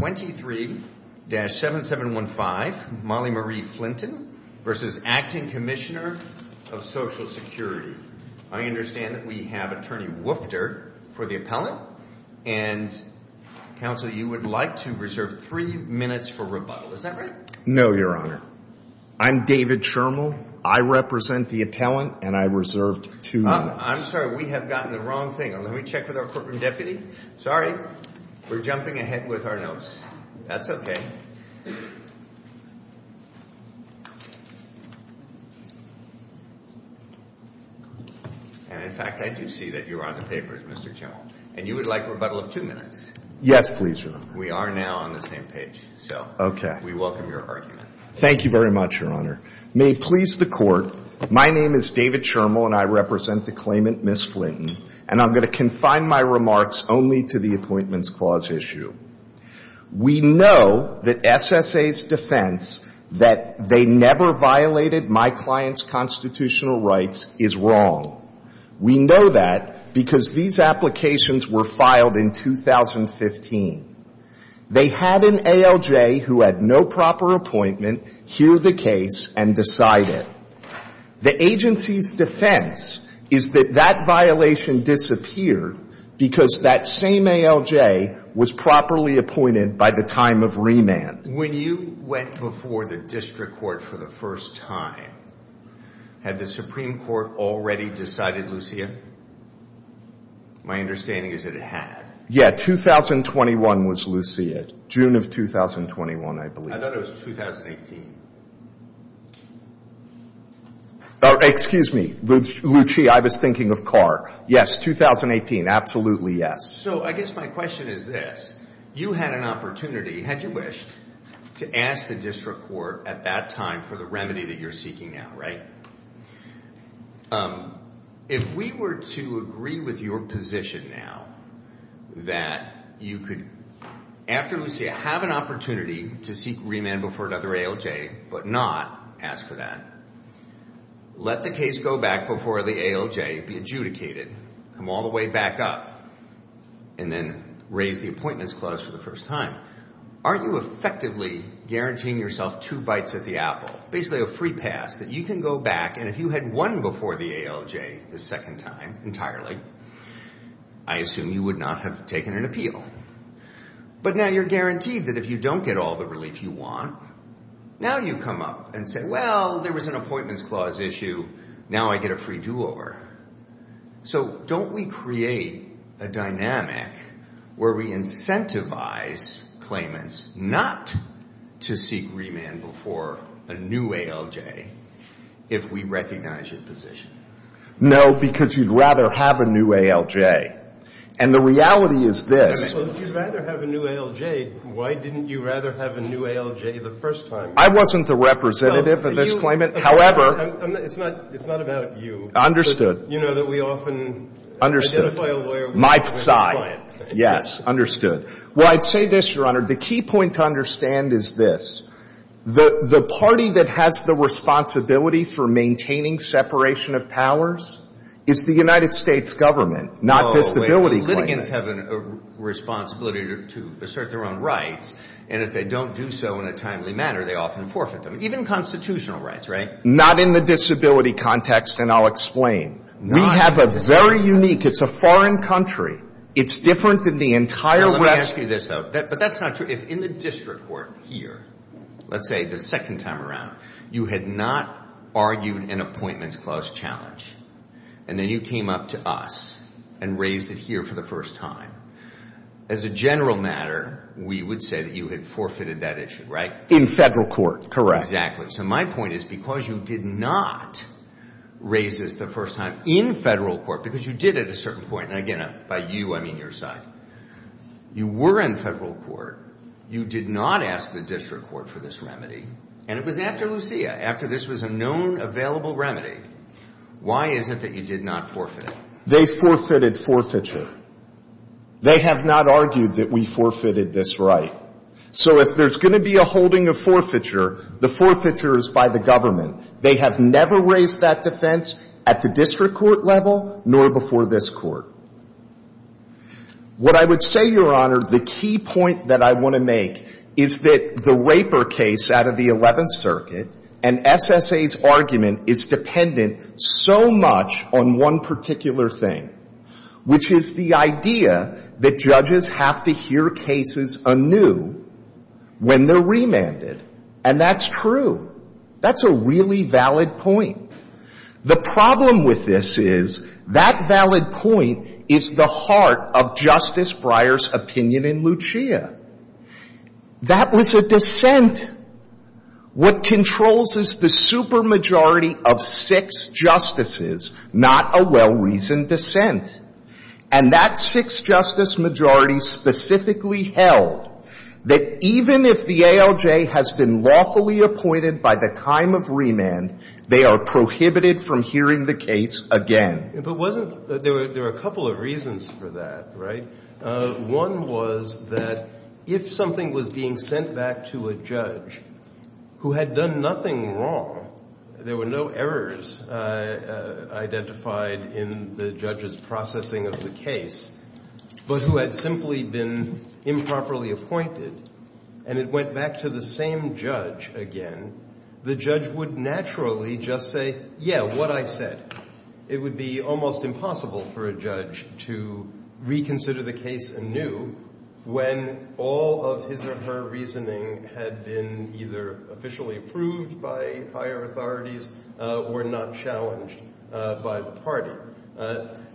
23-7715 Mollie Marie Flinton v. Acting Commissioner of Social Security inals, you'd like a rebuttal of two minutes. In center we have two minutes, a rebuttal of one minute. All infact, John, I did see that you were on the paper. Gentlemen, way to address me not the words on your face. The all right. And please be seated. We know that SSA's defense that they never violated my client's constitutional rights is wrong. We know that because these applications were filed in 2015. They had an ALJ who had no proper appointment hear the case and decide it. The agency's defense is that that violation disappeared because that same ALJ was properly appointed by the time of remand. When you went before the district court for the first time, had the Supreme Court already decided Lucia? My understanding is that it had. Yeah. 2021 was Lucia. June of 2021, I believe. I thought it was 2018. Excuse me. Lucia, I was thinking of Carr. Yes, 2018. Absolutely, yes. So, I guess my question is this. You had an opportunity, had you wished, to ask the district court at that time for the remedy that you're seeking now, right? If we were to agree with your position now that you could, after Lucia, have an opportunity to seek remand before another ALJ, but not ask for that. Let the case go back before the ALJ, be adjudicated, come all the way back up, and then raise the appointments clause for the first time. Are you effectively guaranteeing yourself two bites at the apple? Basically, a free pass that you can go back, and if you had won before the ALJ the second time entirely, I assume you would not have taken an appeal. But now you're guaranteed that if you don't get all the relief you want, now you come up and say, well, there was an appointments clause issue, now I get a free do-over. So, don't we create a dynamic where we incentivize claimants not to seek remand before a new ALJ if we recognize your position? No, because you'd rather have a new ALJ. And the reality is this. Well, if you'd rather have a new ALJ, why didn't you rather have a new ALJ the first time? I wasn't the representative of this claimant. However. It's not about you. Understood. You know that we often identify a lawyer with a client. My side. Yes. Understood. Well, I'd say this, Your Honor. The key point to understand is this. The party that has the responsibility for maintaining separation of powers is the United States government, not disability claimants. Well, litigants have a responsibility to assert their own rights, and if they don't do so in a timely manner, they often forfeit them. Even constitutional rights, right? Not in the disability context, and I'll explain. We have a very unique, it's a foreign country. It's different than the entire rest. Now, let me ask you this, though. But that's not true. If in the district court here, let's say the second time around, you had not argued an appointments clause challenge, and then you came up to us and raised it here for the first time, as a general matter, we would say that you had forfeited that issue, right? In federal court. Correct. Exactly. So my point is, because you did not raise this the first time in federal court, because you did at a certain point, and again, by you, I mean your side. You were in federal court. You did not ask the district court for this remedy, and it was after Lucia, after this was a known available remedy. Why is it that you did not forfeit it? They forfeited forfeiture. They have not argued that we forfeited this right. So if there's going to be a holding of forfeiture, the forfeiture is by the government. They have never raised that defense at the district court level, nor before this court. What I would say, Your Honor, the key point that I want to make is that the Raper case out of the 11th Circuit and SSA's argument is dependent so much on one particular thing, which is the idea that judges have to hear cases anew when they're remanded. And that's true. That's a really valid point. The problem with this is that valid point is the heart of Justice Breyer's opinion in Lucia. That was a dissent. What controls is the supermajority of six justices, not a well-reasoned dissent. And that six-justice majority specifically held that even if the ALJ has been lawfully appointed by the time of remand, they are prohibited from hearing the case again. If it wasn't, there are a couple of reasons for that, right? One was that if something was being sent back to a judge who had done nothing wrong, there were no errors identified in the judge's processing of the case, but who had simply been improperly appointed and it went back to the same judge again, the judge would naturally just say, yeah, what I said. It would be almost impossible for a judge to reconsider the case anew when all of his or her reasoning had been either officially approved by higher authorities or not challenged by the party.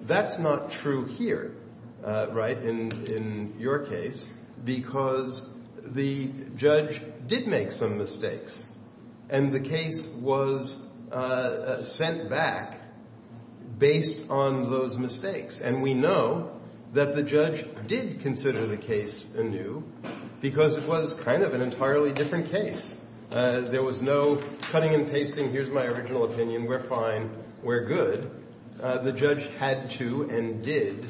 That's not true here, right, in your case, because the judge did make some mistakes and the case was sent back based on those mistakes. And we know that the judge did consider the case anew because it was kind of an entirely different case. There was no cutting and pasting, here's my original opinion, we're fine, we're good. The judge had to and did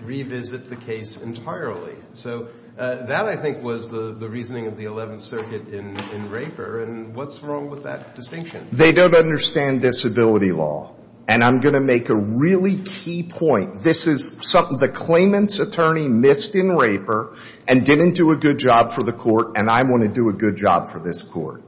revisit the case entirely. So that, I think, was the reasoning of the 11th Circuit in RAPER and what's wrong with that distinction? They don't understand disability law and I'm going to make a really key point. This is something the claimant's attorney missed in RAPER and didn't do a good job for the court and I want to do a good job for this court.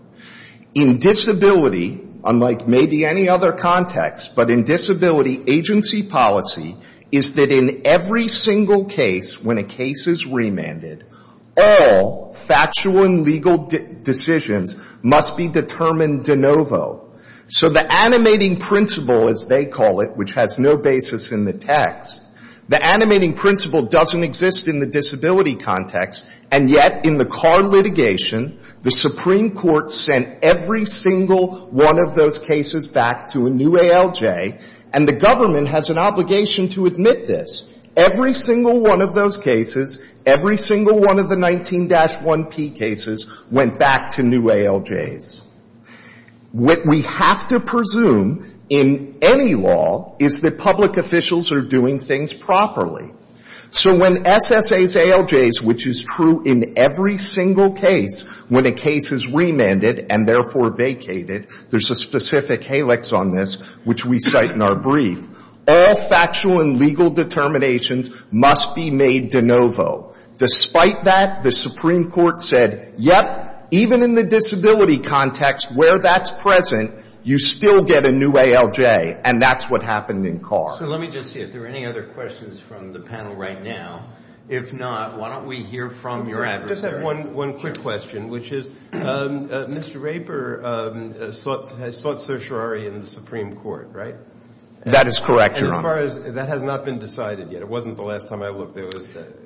In disability, unlike maybe any other context, but in disability agency policy, is that in every single case, when a case is remanded, all factual and legal decisions must be determined de novo. So the animating principle, as they call it, which has no basis in the text, the animating principle doesn't exist in the disability context and yet in the Carr litigation, the Supreme Court sent every single one of those cases back to a new ALJ and the government has an obligation to admit this. Every single one of those cases, every single one of the 19-1P cases went back to new ALJs. What we have to presume in any law is that public officials are doing things properly. So when SSA's ALJs, which is true in every single case, when a case is remanded and therefore vacated, there's a specific helix on this, which we cite in our brief, all factual and legal determinations must be made de novo. Despite that, the Supreme Court said, yep, even in the disability context where that's present, you still get a new ALJ and that's what happened in Carr. So let me just see if there are any other questions from the panel right now. If not, why don't we hear from your adversary. I just have one quick question, which is Mr. Raper has sought certiorari in the Supreme Court, right? That is correct, Your Honor. That has not been decided yet. It wasn't the last time I looked.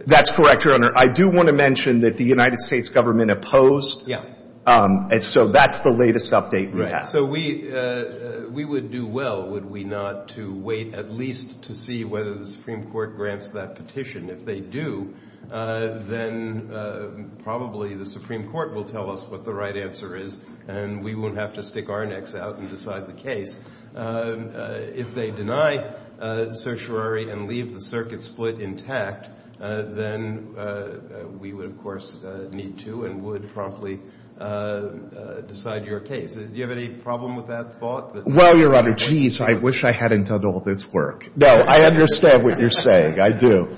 That's correct, Your Honor. I do want to mention that the United States government opposed. Yeah. And so that's the latest update we have. So we would do well, would we not, to wait at least to see whether the Supreme Court grants that petition. If they do, then probably the Supreme Court will tell us what the right answer is and we won't have to stick our necks out and decide the case. If they deny certiorari and leave the circuit split intact, then we would, of course, need to and would promptly decide your case. Do you have any problem with that thought? Well, Your Honor, jeez, I wish I hadn't done all this work. No, I understand what you're saying. I do.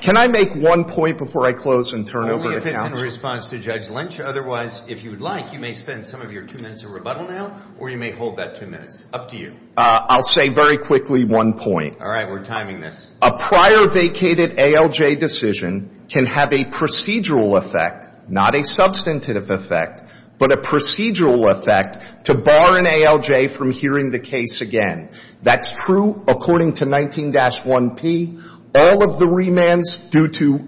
Can I make one point before I close and turn it over to counsel? Only if it's in response to Judge Lynch. Otherwise, if you would like, you may spend some of your two minutes of rebuttal now or you may hold that two minutes. Up to you. I'll say very quickly one point. All right. We're timing this. A prior vacated ALJ decision can have a procedural effect, not a substantive effect, but a procedural effect to bar an ALJ from hearing the case again. That's true according to 19-1P. All of the remands due to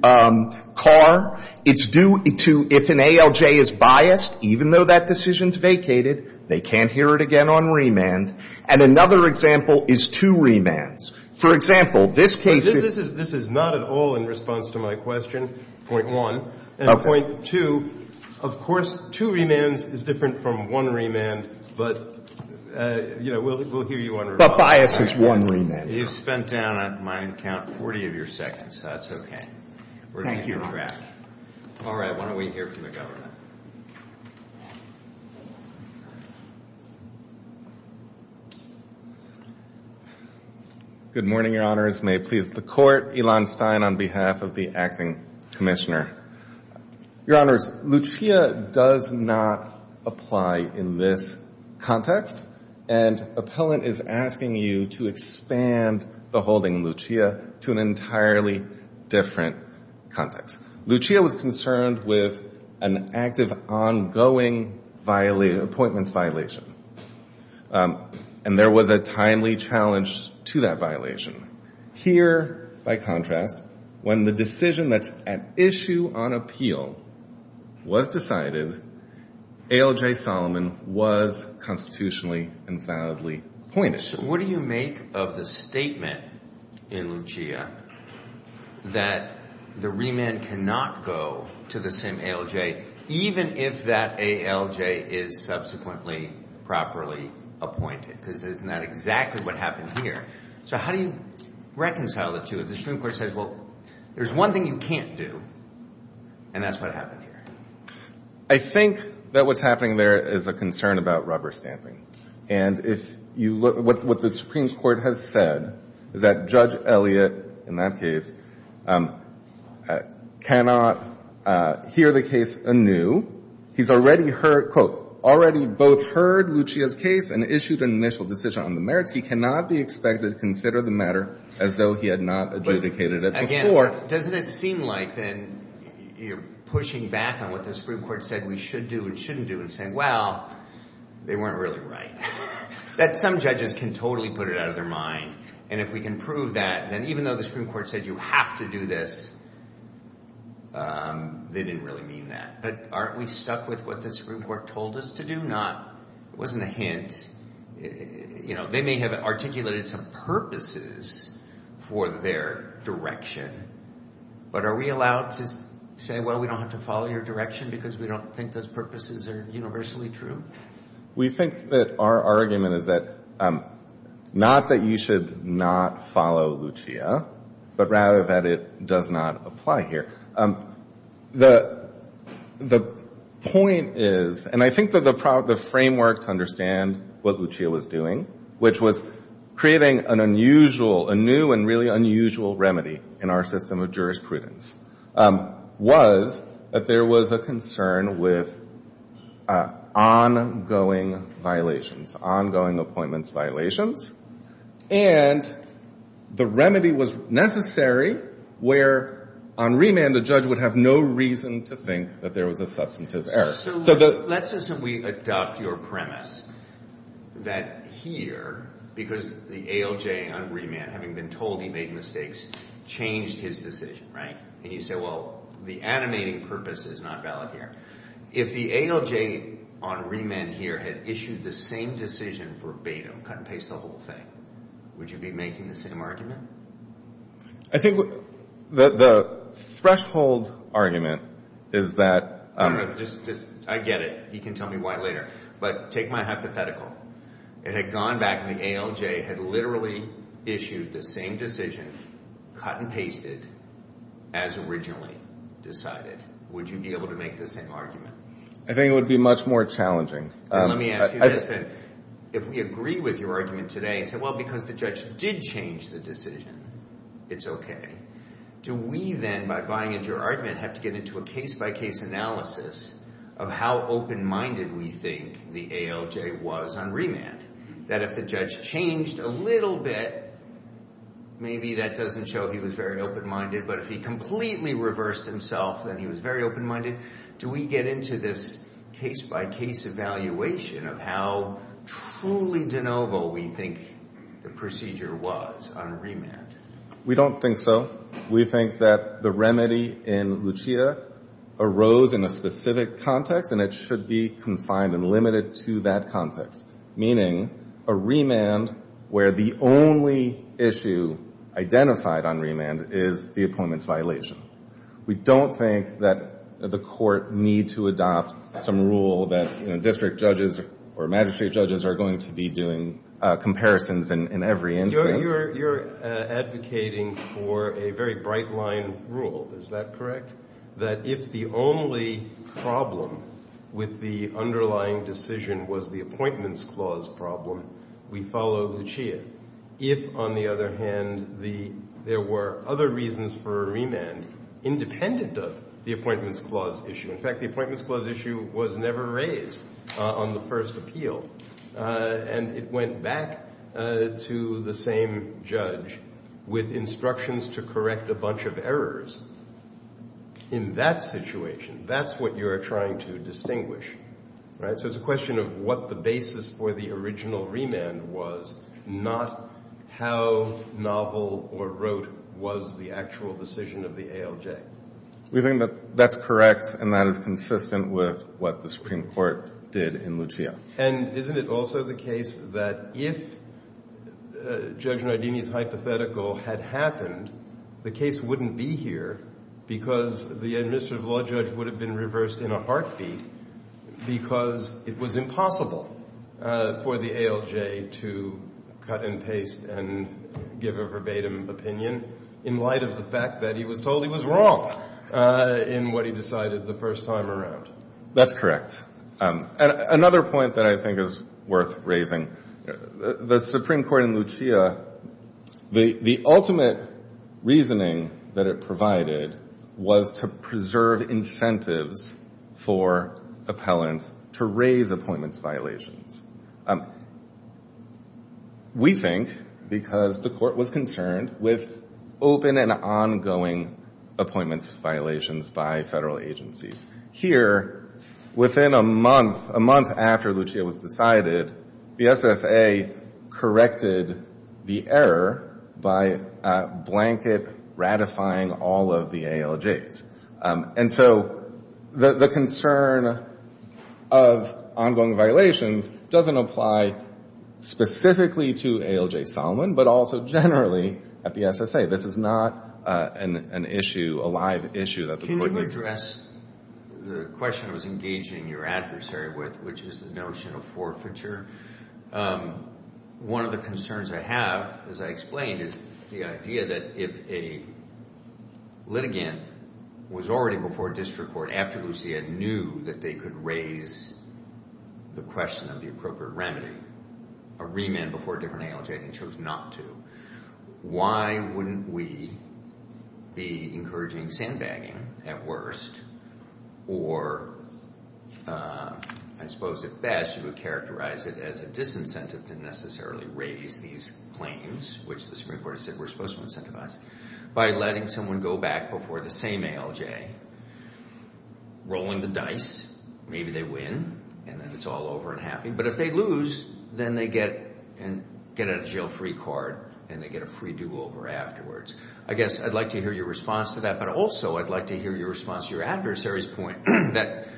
Carr, it's due to if an ALJ is biased, even though that decision is vacated, they can't hear it again on remand. And another example is two remands. For example, this case is — This is not at all in response to my question, point one. Okay. And point two, of course, two remands is different from one remand, but, you know, we'll hear you on — But bias is one remand. You've spent down on my account 40 of your seconds. That's okay. Thank you, Your Honor. We're going to keep track. All right. Why don't we hear from the government? Good morning, Your Honors. May it please the Court. Elon Stein on behalf of the Acting Commissioner. Your Honors, Lucia does not apply in this context. And Appellant is asking you to expand the holding, Lucia, to an entirely different context. Lucia was concerned with an active, ongoing appointments violation. And there was a timely challenge to that violation. Here, by contrast, when the decision that's at issue on appeal was decided, ALJ Solomon was constitutionally and validly appointed. So what do you make of the statement in Lucia that the remand cannot go to the same ALJ, even if that ALJ is subsequently properly appointed? Because isn't that exactly what happened here? So how do you reconcile the two? The Supreme Court says, well, there's one thing you can't do, and that's what happened here. I think that what's happening there is a concern about rubber stamping. And if you look at what the Supreme Court has said, is that Judge Elliott, in that case, cannot hear the case anew. He's already heard, quote, already both heard Lucia's case and issued an initial decision on the merits. He cannot be expected to consider the matter as though he had not adjudicated it before. Again, doesn't it seem like then you're pushing back on what the Supreme Court said we should do and shouldn't do and saying, well, they weren't really right? That some judges can totally put it out of their mind. And if we can prove that, then even though the Supreme Court said you have to do this, they didn't really mean that. But aren't we stuck with what the Supreme Court told us to do? It wasn't a hint. They may have articulated some purposes for their direction. But are we allowed to say, well, we don't have to follow your direction because we don't think those purposes are universally true? We think that our argument is not that you should not follow Lucia, but rather that it does not apply here. The point is, and I think that the framework to understand what Lucia was doing, which was creating an unusual, a new and really unusual remedy in our system of jurisprudence, was that there was a concern with ongoing violations, ongoing appointments violations. And the remedy was necessary where on remand, the judge would have no reason to think that there was a substantive error. So let's assume we adopt your premise that here, because the ALJ on remand, having been told he made mistakes, changed his decision. And you say, well, the animating purpose is not valid here. If the ALJ on remand here had issued the same decision verbatim, cut and paste the whole thing, would you be making the same argument? I think the threshold argument is that— I get it. He can tell me why later. But take my hypothetical. It had gone back and the ALJ had literally issued the same decision, cut and pasted, as originally decided. Would you be able to make the same argument? I think it would be much more challenging. Let me ask you this. If we agree with your argument today and say, well, because the judge did change the decision, it's okay. Do we then, by buying into your argument, have to get into a case-by-case analysis of how open-minded we think the ALJ was on remand? That if the judge changed a little bit, maybe that doesn't show he was very open-minded. But if he completely reversed himself, then he was very open-minded. Do we get into this case-by-case evaluation of how truly de novo we think the procedure was on remand? We don't think so. We think that the remedy in Lucia arose in a specific context, and it should be confined and limited to that context. Meaning a remand where the only issue identified on remand is the appointments violation. We don't think that the court need to adopt some rule that district judges or magistrate judges are going to be doing comparisons in every instance. You're advocating for a very bright-line rule. Is that correct? That if the only problem with the underlying decision was the appointments clause problem, we follow Lucia. If, on the other hand, there were other reasons for a remand independent of the appointments clause issue. In fact, the appointments clause issue was never raised on the first appeal, and it went back to the same judge with instructions to correct a bunch of errors. In that situation, that's what you're trying to distinguish, right? So it's a question of what the basis for the original remand was, not how novel or rote was the actual decision of the ALJ. We think that that's correct, and that is consistent with what the Supreme Court did in Lucia. And isn't it also the case that if Judge Nardini's hypothetical had happened, the case wouldn't be here because the administrative law judge would have been reversed in a heartbeat, because it was impossible for the ALJ to cut and paste and give a verbatim opinion in light of the fact that he was told he was wrong in what he decided the first time around? That's correct. Another point that I think is worth raising, the Supreme Court in Lucia, the ultimate reasoning that it provided was to preserve incentives for appellants to raise appointments violations. We think, because the court was concerned with open and ongoing appointments violations by federal agencies. Here, within a month, a month after Lucia was decided, the SSA corrected the error by blanket ratifying all of the ALJs. And so the concern of ongoing violations doesn't apply specifically to ALJ Solomon, but also generally at the SSA. This is not an issue, a live issue that the court makes. Can you address the question I was engaging your adversary with, which is the notion of forfeiture? One of the concerns I have, as I explained, is the idea that if a litigant was already before district court after Lucia knew that they could raise the question of the appropriate remedy, a remand before a different ALJ and chose not to, why wouldn't we be encouraging sandbagging at worst, or I suppose at best you would characterize it as a disincentive to necessarily raise these claims, which the Supreme Court has said we're supposed to incentivize, by letting someone go back before the same ALJ, rolling the dice, maybe they win, and then it's all over and happy. But if they lose, then they get a jail-free card and they get a free do-over afterwards. I guess I'd like to hear your response to that, but also I'd like to hear your response to your adversary's point that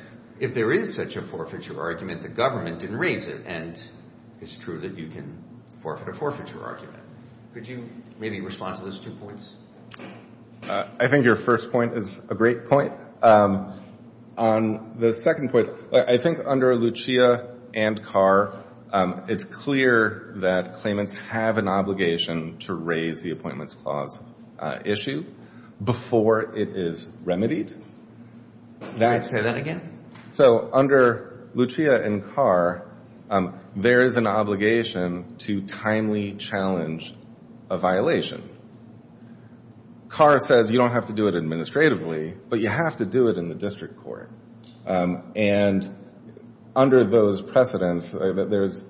if there is such a forfeiture argument, the government didn't raise it, and it's true that you can forfeit a forfeiture argument. Could you maybe respond to those two points? I think your first point is a great point. On the second point, I think under Lucia and Carr, it's clear that claimants have an obligation to raise the Appointments Clause issue before it is remedied. May I say that again? So under Lucia and Carr, there is an obligation to timely challenge a violation. Carr says you don't have to do it administratively, but you have to do it in the district court. And under those precedents, there's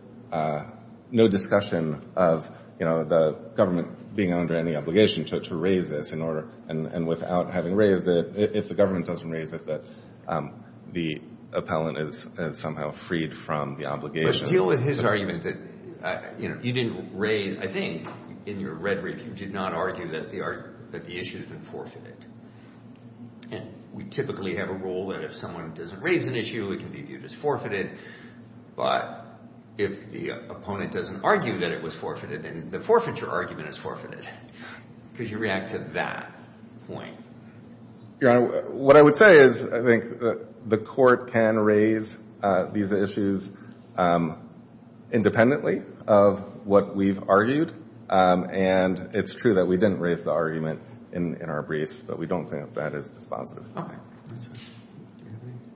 no discussion of the government being under any obligation to raise this, and without having raised it, if the government doesn't raise it, that the appellant is somehow freed from the obligation. But deal with his argument that you didn't raise – I think in your red brief, you did not argue that the issue had been forfeited. And we typically have a rule that if someone doesn't raise an issue, it can be viewed as forfeited. But if the opponent doesn't argue that it was forfeited, then the forfeiture argument is forfeited. Could you react to that point? Your Honor, what I would say is I think the court can raise these issues independently of what we've argued. And it's true that we didn't raise the argument in our briefs, but we don't think that is dispositive.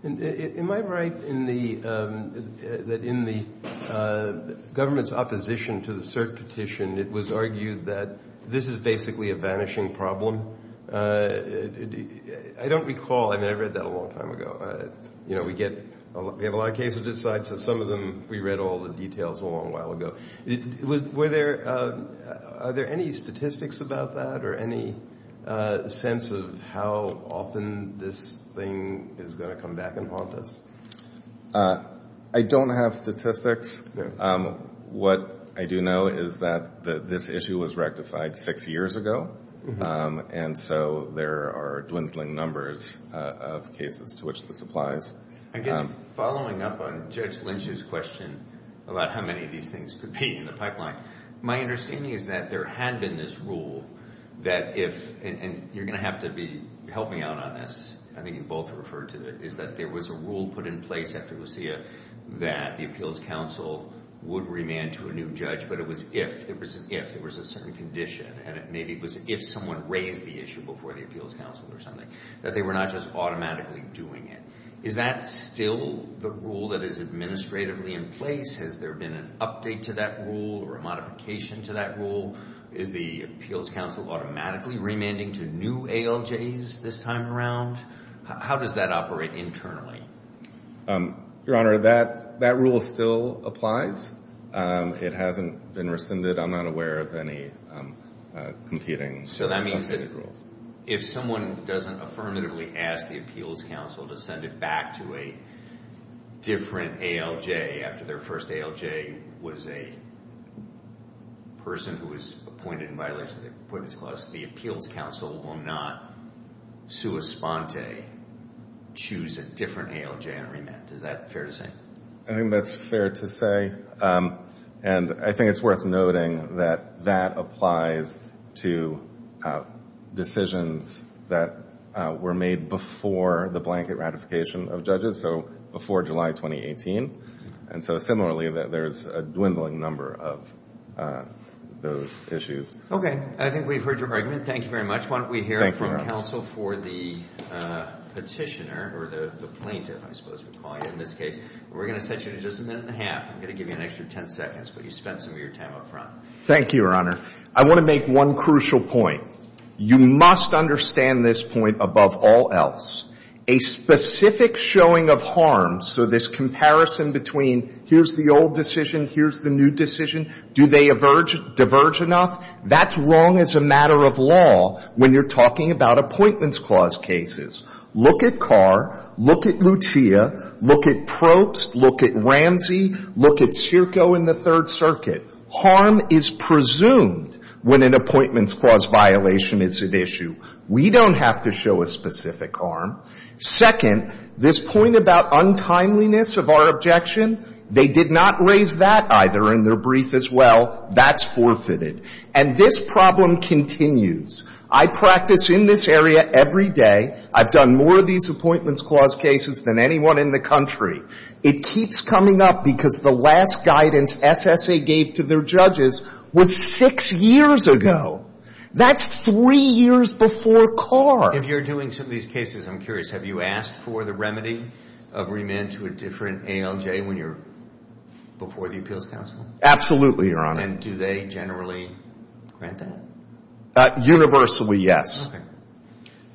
Am I right in the – that in the government's opposition to the cert petition, it was argued that this is basically a vanishing problem? I don't recall – I mean, I read that a long time ago. You know, we get – we have a lot of cases of this side, so some of them we read all the details a long while ago. Were there – are there any statistics about that or any sense of how often this thing is going to come back and haunt us? I don't have statistics. What I do know is that this issue was rectified six years ago, and so there are dwindling numbers of cases to which this applies. I guess following up on Judge Lynch's question about how many of these things could be in the pipeline, my understanding is that there had been this rule that if – and you're going to have to be helping out on this. I think you both referred to it – is that there was a rule put in place after Lucia that the Appeals Council would remand to a new judge, but it was if – there was an if – there was a certain condition, and maybe it was if someone raised the issue before the Appeals Council or something, that they were not just automatically doing it. Is that still the rule that is administratively in place? Has there been an update to that rule or a modification to that rule? Is the Appeals Council automatically remanding to new ALJs this time around? How does that operate internally? Your Honor, that rule still applies. It hasn't been rescinded. I'm not aware of any competing rules. So that means that if someone doesn't affirmatively ask the Appeals Council to send it back to a different ALJ after their first ALJ was a person who was appointed in violation of the Appointments Clause, the Appeals Council will not sua sponte choose a different ALJ and remand. Is that fair to say? I think that's fair to say. And I think it's worth noting that that applies to decisions that were made before the blanket ratification of judges, so before July 2018. And so similarly, there's a dwindling number of those issues. Okay. I think we've heard your argument. Thank you very much. Why don't we hear it from counsel for the petitioner, or the plaintiff, I suppose we'd call you in this case. We're going to set you to just a minute and a half. I'm going to give you an extra ten seconds, but you spent some of your time up front. Thank you, Your Honor. I want to make one crucial point. You must understand this point above all else. A specific showing of harm, so this comparison between here's the old decision, here's the new decision, do they diverge enough? That's wrong as a matter of law when you're talking about Appointments Clause cases. Look at Carr, look at Lucia, look at Probst, look at Ramsey, look at Circo in the Third Circuit. Harm is presumed when an Appointments Clause violation is at issue. We don't have to show a specific harm. Second, this point about untimeliness of our objection, they did not raise that either in their brief as well. That's forfeited. And this problem continues. I practice in this area every day. I've done more of these Appointments Clause cases than anyone in the country. It keeps coming up because the last guidance SSA gave to their judges was six years ago. That's three years before Carr. If you're doing some of these cases, I'm curious, have you asked for the remedy of remand to a different ALJ when you're before the Appeals Council? Absolutely, Your Honor. And do they generally grant that? Universally, yes. Okay.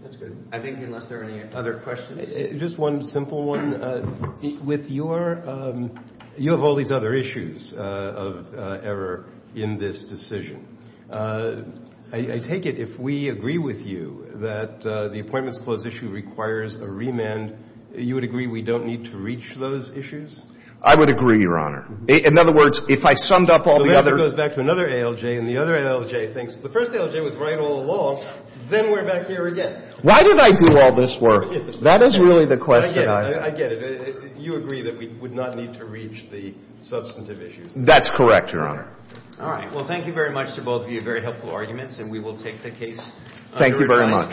That's good. I think unless there are any other questions. Just one simple one. With your ‑‑ you have all these other issues of error in this decision. I take it if we agree with you that the Appointments Clause issue requires a remand, you would agree we don't need to reach those issues? I would agree, Your Honor. In other words, if I summed up all the other ‑‑ Then we're back here again. Why did I do all this work? That is really the question. I get it. I get it. You agree that we would not need to reach the substantive issues. That's correct, Your Honor. All right. Well, thank you very much to both of you. Very helpful arguments. And we will take the case under review. Thank you very much.